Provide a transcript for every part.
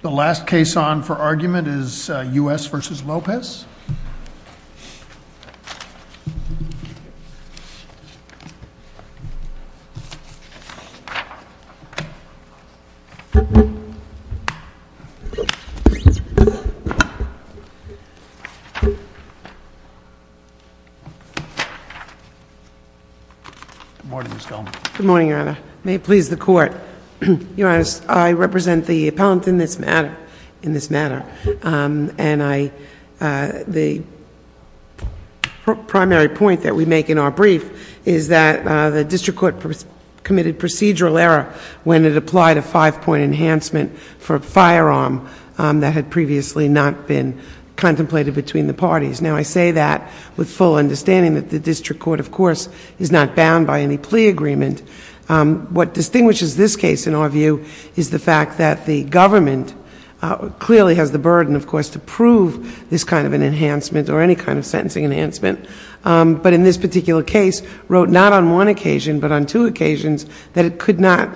The last case on for argument is U.S. v. Lopez. Good morning, Ms. Goldman. Good morning, Your Honor. May it please the Court. Your Honor, I represent the appellant in this matter. And the primary point that we make in our brief is that the District Court committed procedural error when it applied a five-point enhancement for a firearm that had previously not been contemplated between the parties. Now, I say that with full understanding that the District Court, of course, is not bound by any plea agreement. What distinguishes this case, in our view, is the fact that the government clearly has the burden, of course, to prove this kind of an enhancement or any kind of sentencing enhancement. But in this particular case, wrote not on one occasion, but on two occasions, that it could not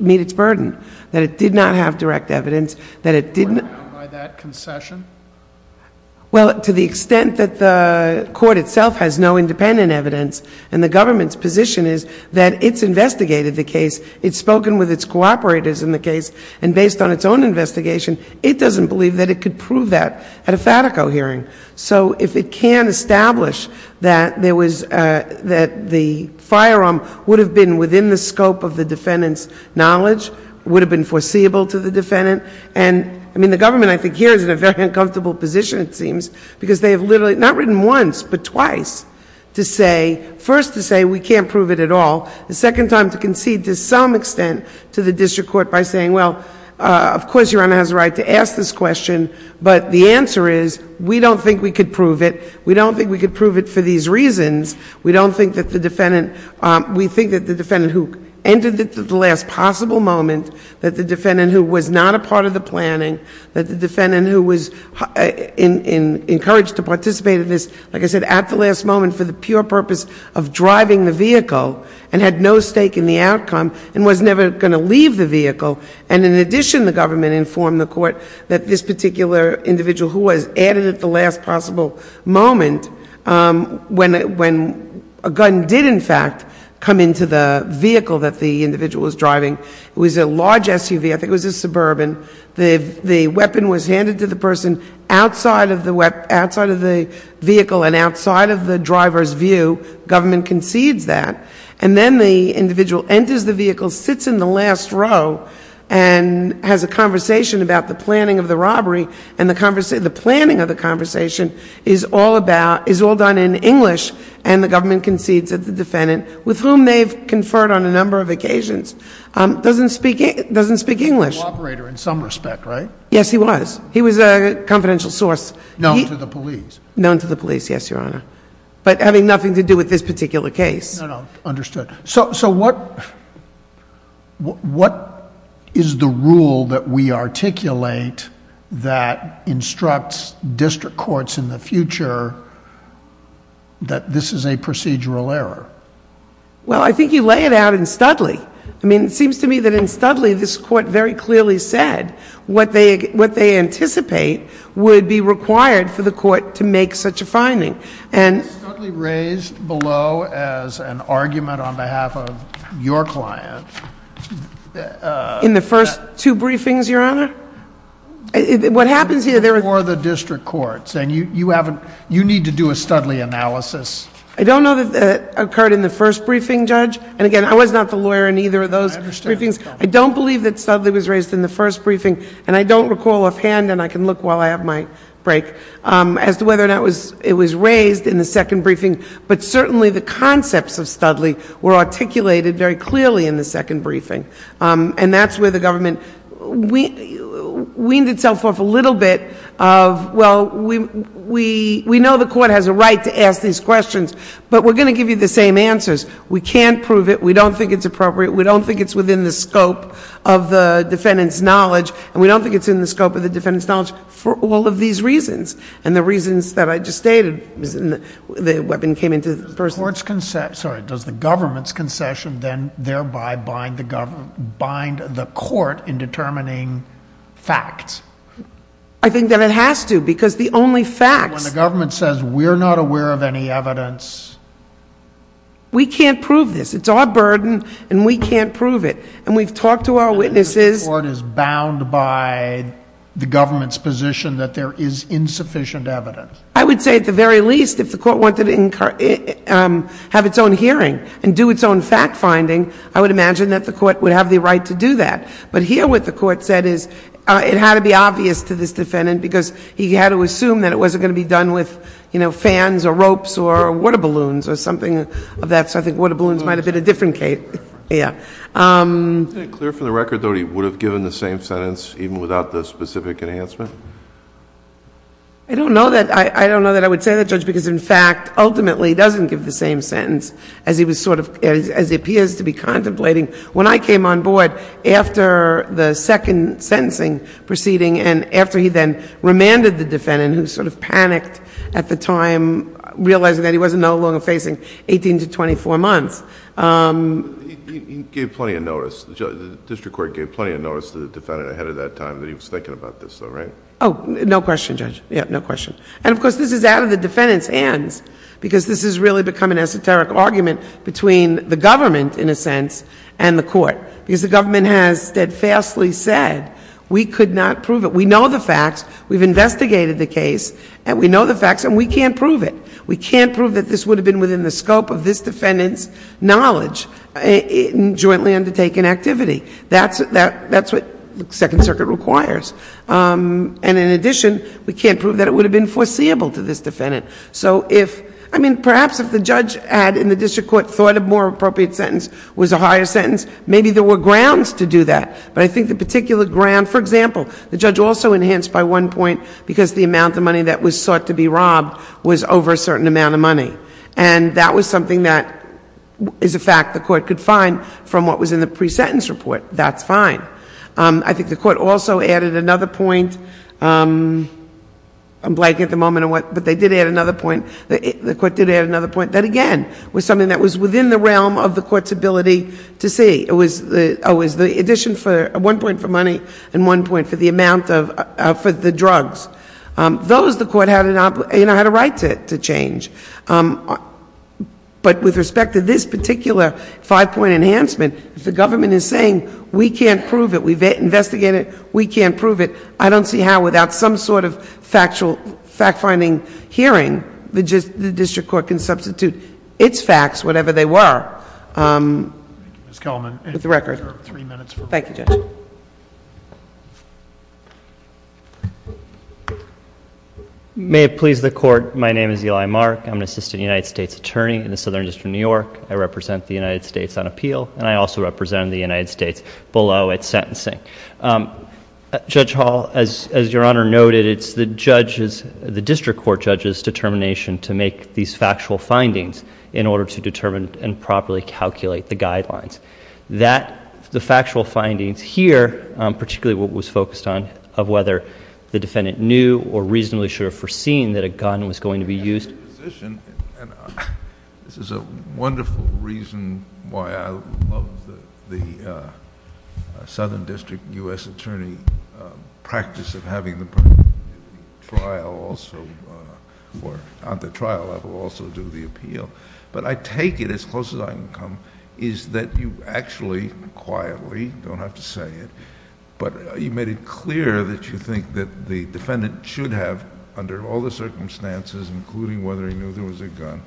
meet its burden, that it did not have direct evidence, that it did not... It was not bound by that concession? Well, to the extent that the Court itself has no independent evidence, and the government's position is that it's investigated the case, it's spoken with its cooperators in the case, and based on its own investigation, it doesn't believe that it could prove that at a FATACO hearing. So if it can establish that there was, that the firearm would have been within the scope of the defendant's knowledge, would have been foreseeable to the defendant, and, I mean, the government, I think, here is in a very uncomfortable position, it seems, because they have literally, not written once, but twice, to say, first to say we can't prove it at all, the second time to concede to some extent to the District Court by saying, well, of course, Your Honor has a right to ask this question, but the answer is we don't think we could prove it. We don't think we could prove it for these reasons. We don't think that the defendant, we think that the defendant who entered it at the last possible moment, that the defendant who was not a part of the planning, that the defendant who was encouraged to participate in this, like I said, at the last moment for the pure purpose of driving the vehicle and had no stake in the outcome and was never going to leave the vehicle, and in addition, the government informed the Court that this particular individual who was added at the last possible moment, when a gun did, in fact, come into the vehicle that the individual was driving, it was a large SUV, I think it was a Suburban, the weapon was handed to the person outside of the vehicle and outside of the driver's view, government concedes that, and then the individual enters the vehicle, sits in the last row, and has a conversation about the planning of the robbery, and the planning of the conversation is all done in English, and the government concedes that the defendant, with whom they've conferred on a number of occasions, doesn't speak English. He's a co-operator in some respect, right? Yes, he was. He was a confidential source. Known to the police. Known to the police, yes, Your Honor, but having nothing to do with this particular case. No, no, understood. So what is the rule that we articulate that instructs district courts in the future that this is a procedural error? Well, I think you lay it out in Studley. I mean, it seems to me that in Studley, this Court very clearly said what they anticipate would be required for the Court to make such a finding. Was Studley raised below as an argument on behalf of your client? In the first two briefings, Your Honor? Before the district courts, and you need to do a Studley analysis. I don't know that it occurred in the first briefing, Judge, and again, I was not the lawyer in either of those briefings. I don't believe that Studley was raised in the first briefing, and I don't recall offhand, and I can look while I have my break, as to whether or not it was raised in the second briefing, but certainly the concepts of Studley were articulated very clearly in the second briefing. And that's where the government weaned itself off a little bit of, well, we know the Court has a right to ask these questions, but we're going to give you the same answers. We can't prove it. We don't think it's appropriate. We don't think it's within the scope of the defendant's knowledge, and we don't think it's in the scope of the defendant's knowledge for all of these reasons, and the reasons that I just stated, the weapon came into the person. Does the government's concession then thereby bind the court in determining facts? I think that it has to, because the only facts... When the government says, we're not aware of any evidence... We can't prove this. It's our burden, and we can't prove it. And we've talked to our witnesses... And by the government's position that there is insufficient evidence. I would say at the very least, if the court wanted to have its own hearing and do its own fact-finding, I would imagine that the court would have the right to do that. But here, what the court said is, it had to be obvious to this defendant, because he had to assume that it wasn't going to be done with fans or ropes or water balloons or something like that. So I think water balloons might have been a different case. Is it clear from the record, though, that he would have given the same sentence, even without the specific enhancement? I don't know that I would say that, Judge, because in fact, ultimately, he doesn't give the same sentence, as he appears to be contemplating. When I came on board, after the second sentencing proceeding, and after he then remanded the defendant, who sort of panicked at the time, realizing that he was no longer facing 18 to 24 months, He gave plenty of notice. The district court gave plenty of notice to the defendant ahead of that time that he was thinking about this, though, right? Oh, no question, Judge. Yeah, no question. And of course, this is out of the defendant's hands, because this has really become an esoteric argument between the government, in a sense, and the court, because the government has steadfastly said, we could not prove it. We know the facts. We've investigated the case, and we know the facts, and we can't prove it. We can't prove that this would have been within the scope of this defendant's knowledge in jointly undertaken activity. That's what the Second Circuit requires. And in addition, we can't prove that it would have been foreseeable to this defendant. So if, I mean, perhaps if the judge had, in the district court, thought a more appropriate sentence was a higher sentence, maybe there were grounds to do that. But I think the particular ground, for example, the judge also enhanced by one point, because the amount of money that was sought to be robbed was over a certain amount of money. And that was something that is a fact the court could find from what was in the pre-sentence report. That's fine. I think the court also added another point. I'm blanking at the moment on what, but they did add another point. The court did add another point that, again, was something that was within the realm of the court's ability to see. It was the addition for one point for money and one point for the amount for the drugs. Those, the court had a right to change. But with respect to this particular five-point enhancement, if the government is saying, we can't prove it, we've investigated it, we can't prove it, I don't see how without some sort of fact-finding hearing the district court can substitute its facts, whatever they were. Thank you, Ms. Kellman. With the record. Thank you, Judge. May it please the Court, my name is Eli Mark. I'm an assistant United States attorney in the Southern District of New York. I represent the United States on appeal, and I also represent the United States below at sentencing. Judge Hall, as Your Honor noted, it's the district court judge's determination to make these factual findings in order to determine and properly calculate the guidelines. That, the factual findings here, particularly what was focused on, of whether the defendant knew or reasonably should have foreseen that a gun was going to be used. This is a wonderful reason why I love the Southern District U.S. attorney practice of having the trial also... on the trial level also do the appeal. But I take it, as close as I can come, is that you actually, quietly, don't have to say it, but you made it clear that you think that the defendant should have, under all the circumstances, including whether he knew there was a gun,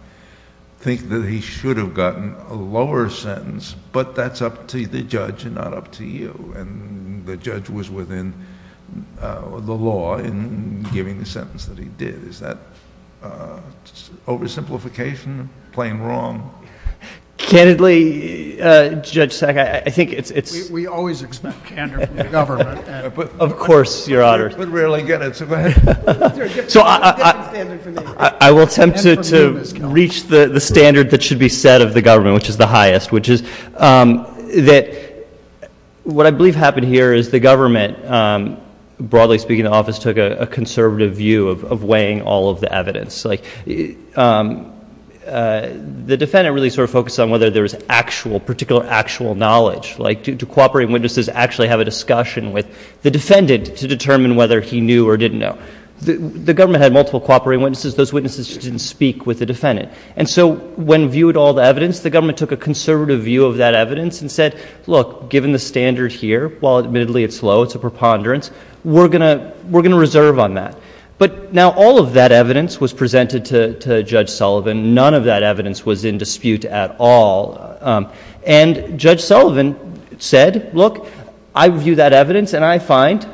think that he should have gotten a lower sentence, but that's up to the judge and not up to you. And the judge was within the law in giving the sentence that he did. Is that oversimplification, plain wrong? Candidly, Judge Sack, I think it's... We always expect candor from the government. Of course, Your Honor. We rarely get it. So, I will attempt to reach the standard that should be set of the government, which is the highest, which is that what I believe happened here is the government, broadly speaking in the office, took a conservative view of weighing all of the evidence. Like, the defendant really sort of focused on whether there was actual, particular actual knowledge. Like, do cooperating witnesses actually have a discussion with the defendant to determine whether he knew or didn't know? The government had multiple cooperating witnesses. Those witnesses just didn't speak with the defendant. And so, when viewed all the evidence, the government took a conservative view of that evidence and said, look, given the standard here, while admittedly it's low, it's a preponderance, we're going to reserve on that. But now, all of that evidence was presented to Judge Sullivan. None of that evidence was in dispute at all. And Judge Sullivan said, look, I view that evidence and I find,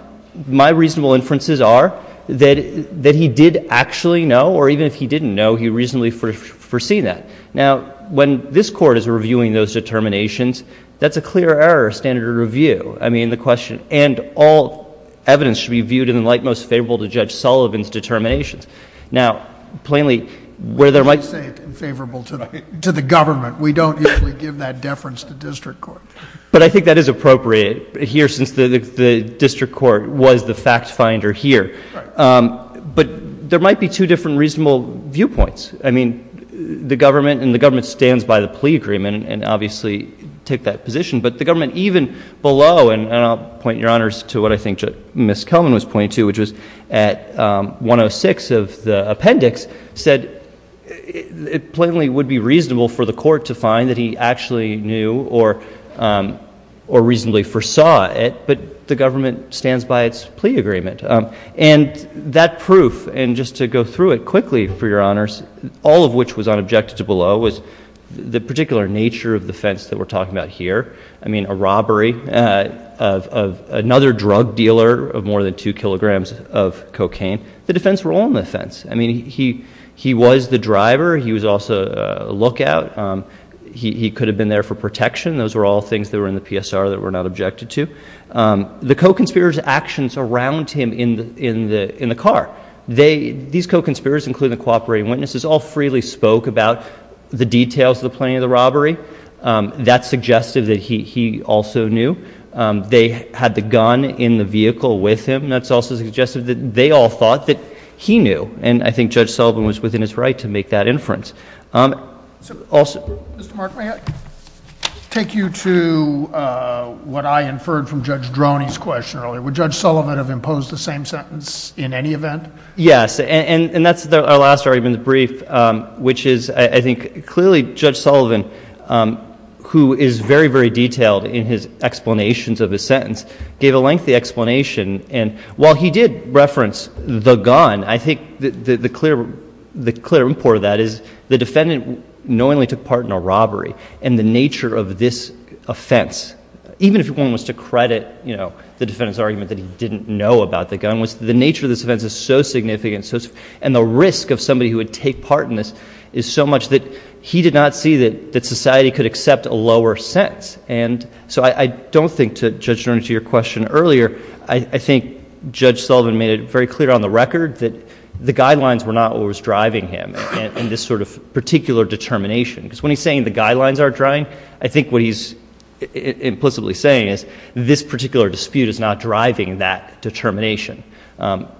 my reasonable inferences are, that he did actually know, or even if he didn't know, he reasonably foreseen that. Now, when this Court is reviewing those determinations, that's a clear error of standard of review. I mean, the question, and all evidence should be viewed in the light most favorable to Judge Sullivan's determinations. Now, plainly, where there might be... But I think that is appropriate here since the district court was the fact finder here. Right. But there might be two different reasonable viewpoints. I mean, the government, and the government stands by the plea agreement and obviously took that position. But the government even below, and I'll point your honors to what I think Ms. Kelman was pointing to, which was at 106 of the appendix, said it plainly would be reasonable for the court to find that he actually knew or reasonably foresaw it. But the government stands by its plea agreement. And that proof, and just to go through it quickly for your honors, all of which was unobjected to below, was the particular nature of the offense that we're talking about here. I mean, a robbery of another drug dealer of more than 2 kilograms of cocaine. The defense were all on the offense. I mean, he was the driver. He was also a lookout. He could have been there for protection. Those were all things that were in the PSR that were not objected to. The co-conspirator's actions around him in the car, these co-conspirators, including the cooperating witnesses, all freely spoke about the details of the planning of the robbery. That's suggestive that he also knew. They had the gun in the vehicle with him. That's also suggestive that they all thought that he knew. And I think Judge Sullivan was within his right to make that inference. Also— Mr. Mark, may I take you to what I inferred from Judge Droney's question earlier? Would Judge Sullivan have imposed the same sentence in any event? Yes. And that's our last argument in the brief, which is I think clearly Judge Sullivan, who is very, very detailed in his explanations of his sentence, gave a lengthy explanation. And while he did reference the gun, I think the clear report of that is the defendant knowingly took part in a robbery. And the nature of this offense, even if one was to credit the defendant's argument that he didn't know about the gun, was the nature of this offense is so significant and the risk of somebody who would take part in this is so much that he did not see that society could accept a lower sentence. And so I don't think, to Judge Droney's question earlier, I think Judge Sullivan made it very clear on the record that the guidelines were not what was driving him in this sort of particular determination. Because when he's saying the guidelines aren't driving, I think what he's implicitly saying is this particular dispute is not driving that determination.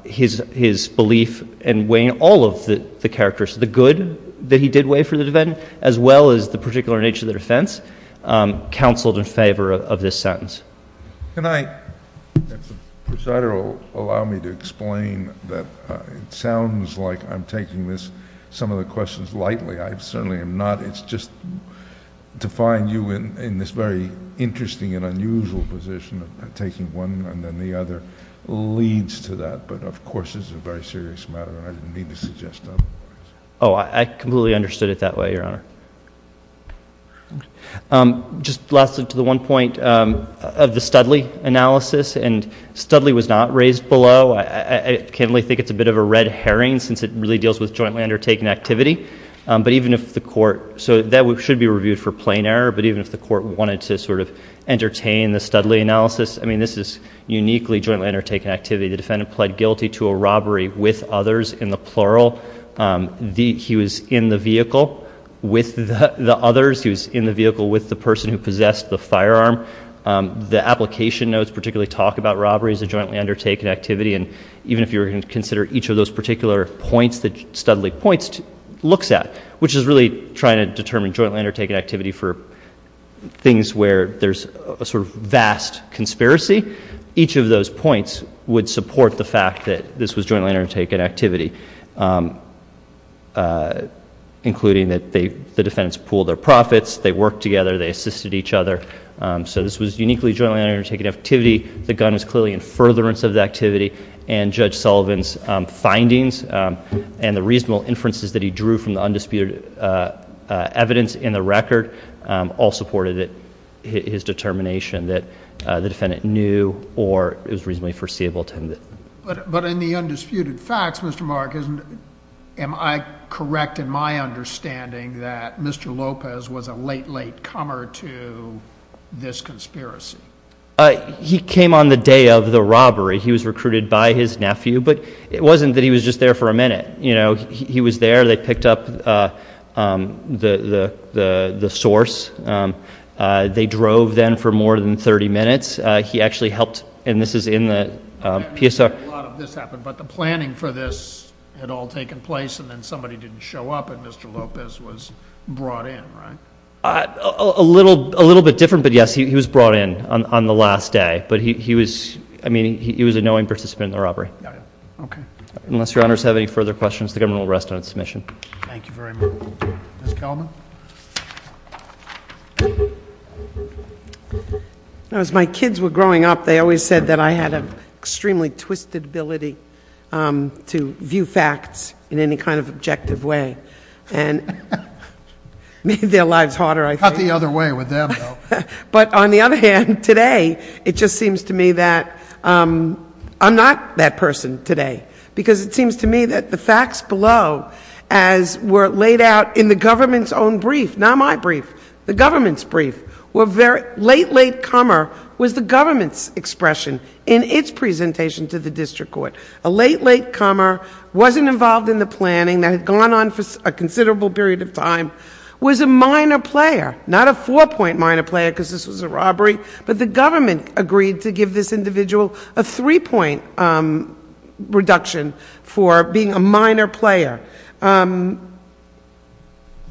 His belief in weighing all of the characteristics, the good that he did weigh for the defendant, as well as the particular nature of the defense, counseled in favor of this sentence. Can I, if the presider will allow me to explain, that it sounds like I'm taking some of the questions lightly. I certainly am not. It's just to find you in this very interesting and unusual position of taking one and then the other leads to that. But, of course, this is a very serious matter, and I didn't mean to suggest otherwise. Oh, I completely understood it that way, Your Honor. Just lastly, to the one point of the Studley analysis, and Studley was not raised below. I can only think it's a bit of a red herring since it really deals with jointly undertaken activity. But even if the court, so that should be reviewed for plain error, but even if the court wanted to sort of entertain the Studley analysis, I mean, this is uniquely jointly undertaken activity. The defendant pled guilty to a robbery with others, in the plural. He was in the vehicle with the others. He was in the vehicle with the person who possessed the firearm. The application notes particularly talk about robberies as jointly undertaken activity, and even if you were going to consider each of those particular points that Studley points, looks at, which is really trying to determine jointly undertaken activity for things where there's a sort of vast conspiracy. Each of those points would support the fact that this was jointly undertaken activity, including that the defendants pooled their profits, they worked together, they assisted each other. So this was uniquely jointly undertaken activity. The gun was clearly in furtherance of the activity, and Judge Sullivan's findings and the reasonable inferences that he drew from the undisputed evidence in the record all supported his determination that the defendant knew or it was reasonably foreseeable to him that... He came on the day of the robbery. He was recruited by his nephew, but it wasn't that he was just there for a minute. He was there. They picked up the source. They drove then for more than 30 minutes. He actually helped, and this is in the PSR... A lot of this happened, but the planning for this had all taken place, and then somebody didn't show up, and Mr. Lopez was brought in, right? A little bit different, but yes, he was brought in on the last day. But he was... I mean, he was a knowing participant in the robbery. Okay. Unless Your Honors have any further questions, the government will rest on its submission. Thank you very much. Ms. Kelman? As my kids were growing up, they always said that I had an extremely twisted ability to view facts in any kind of objective way. And it made their lives harder, I think. Not the other way with them, though. But on the other hand, today, it just seems to me that I'm not that person today, because it seems to me that the facts below, as were laid out in the government's own brief, not my brief, the government's brief, were very... Late, late comer was the government's expression in its presentation to the district court. A late, late comer, wasn't involved in the planning, that had gone on for a considerable period of time, was a minor player. Not a four-point minor player, because this was a robbery, but the government agreed to give this individual a three-point reduction for being a minor player.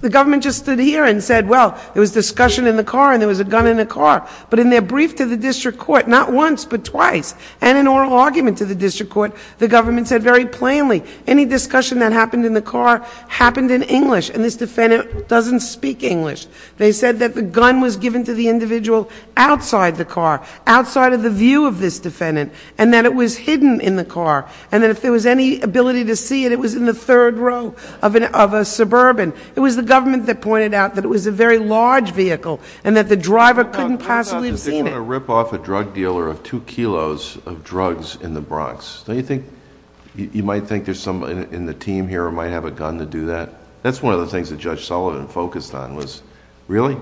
The government just stood here and said, well, there was discussion in the car, and there was a gun in the car. But in their brief to the district court, not once, but twice, and in oral argument to the district court, the government said very plainly, any discussion that happened in the car happened in English, and this defendant doesn't speak English. They said that the gun was given to the individual outside the car, outside of the view of this defendant, and that it was hidden in the car, and that if there was any ability to see it, it was in the third row of a suburban. It was the government that pointed out that it was a very large vehicle, and that the driver couldn't possibly have seen it. Just to kind of rip off a drug dealer of two kilos of drugs in the Bronx, don't you think you might think there's somebody in the team here who might have a gun to do that? That's one of the things that Judge Sullivan focused on, was really?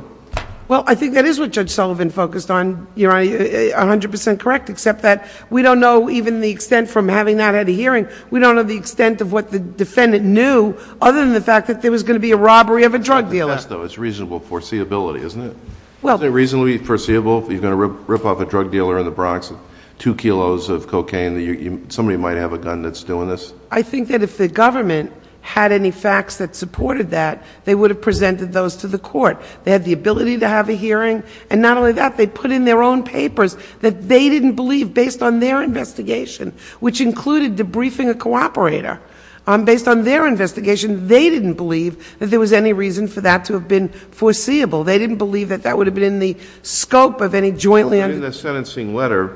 Well, I think that is what Judge Sullivan focused on, Your Honor, 100 percent correct, except that we don't know even the extent from having not had a hearing, we don't know the extent of what the defendant knew, other than the fact that there was going to be a robbery of a drug dealer. It's reasonable foreseeability, isn't it? Isn't it reasonably foreseeable that you're going to rip off a drug dealer in the Bronx, two kilos of cocaine, that somebody might have a gun that's doing this? I think that if the government had any facts that supported that, they would have presented those to the court. They had the ability to have a hearing, and not only that, they put in their own papers that they didn't believe, based on their investigation, which included debriefing a cooperator. Based on their investigation, they didn't believe that there was any reason for that to have been foreseeable. They didn't believe that that would have been in the scope of any jointly- In the sentencing letter,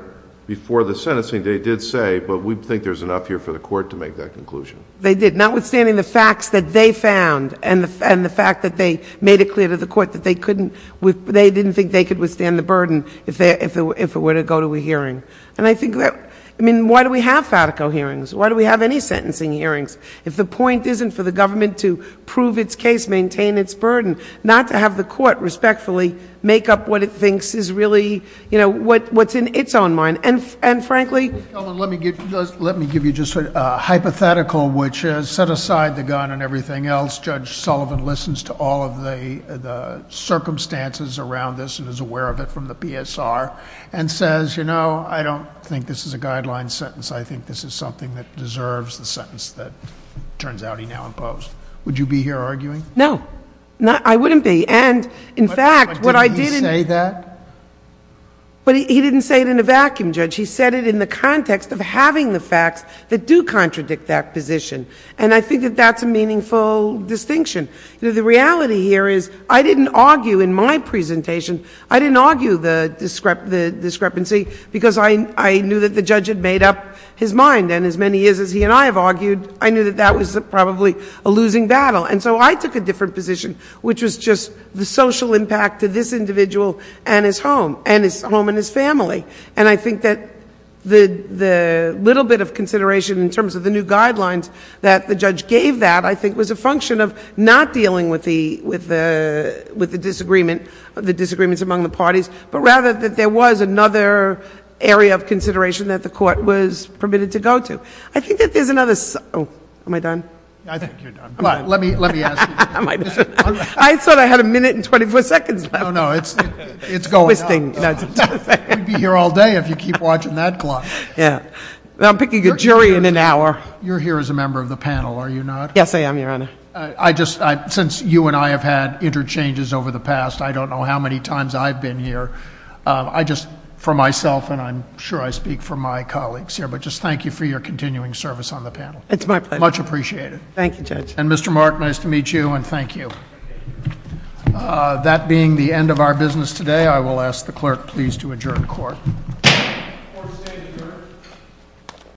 before the sentencing, they did say, but we think there's enough here for the court to make that conclusion. They did, notwithstanding the facts that they found and the fact that they made it clear to the court that they didn't think they could withstand the burden if it were to go to a hearing. And I think that, I mean, why do we have FATICO hearings? Why do we have any sentencing hearings? If the point isn't for the government to prove its case, maintain its burden, not to have the court respectfully make up what it thinks is really, you know, what's in its own mind. And frankly- Let me give you just a hypothetical, which has set aside the gun and everything else. Judge Sullivan listens to all of the circumstances around this and is aware of it from the PSR and says, you know, I don't think this is a guideline sentence. I think this is something that deserves the sentence that it turns out he now imposed. Would you be here arguing? No. I wouldn't be. And, in fact, what I did in- But did he say that? But he didn't say it in a vacuum, Judge. He said it in the context of having the facts that do contradict that position. And I think that that's a meaningful distinction. You know, the reality here is I didn't argue in my presentation. I didn't argue the discrepancy because I knew that the judge had made up his mind. And as many years as he and I have argued, I knew that that was probably a losing battle. And so I took a different position, which was just the social impact to this individual and his home and his family. And I think that the little bit of consideration in terms of the new guidelines that the judge gave that, I think, was a function of not dealing with the disagreement, the disagreements among the parties, but rather that there was another area of consideration that the court was permitted to go to. I think that there's another- Oh. Am I done? I think you're done. Let me ask you. I thought I had a minute and 24 seconds left. No, no. It's going on. We'd be here all day if you keep watching that clock. Yeah. I'm picking a jury in an hour. You're here as a member of the panel, are you not? Yes, I am, Your Honor. Since you and I have had interchanges over the past, I don't know how many times I've been here. I just, for myself, and I'm sure I speak for my colleagues here, but just thank you for your continuing service on the panel. It's my pleasure. Much appreciated. Thank you, Judge. And Mr. Mark, nice to meet you and thank you. That being the end of our business today, I will ask the clerk please to adjourn court. Court is adjourned.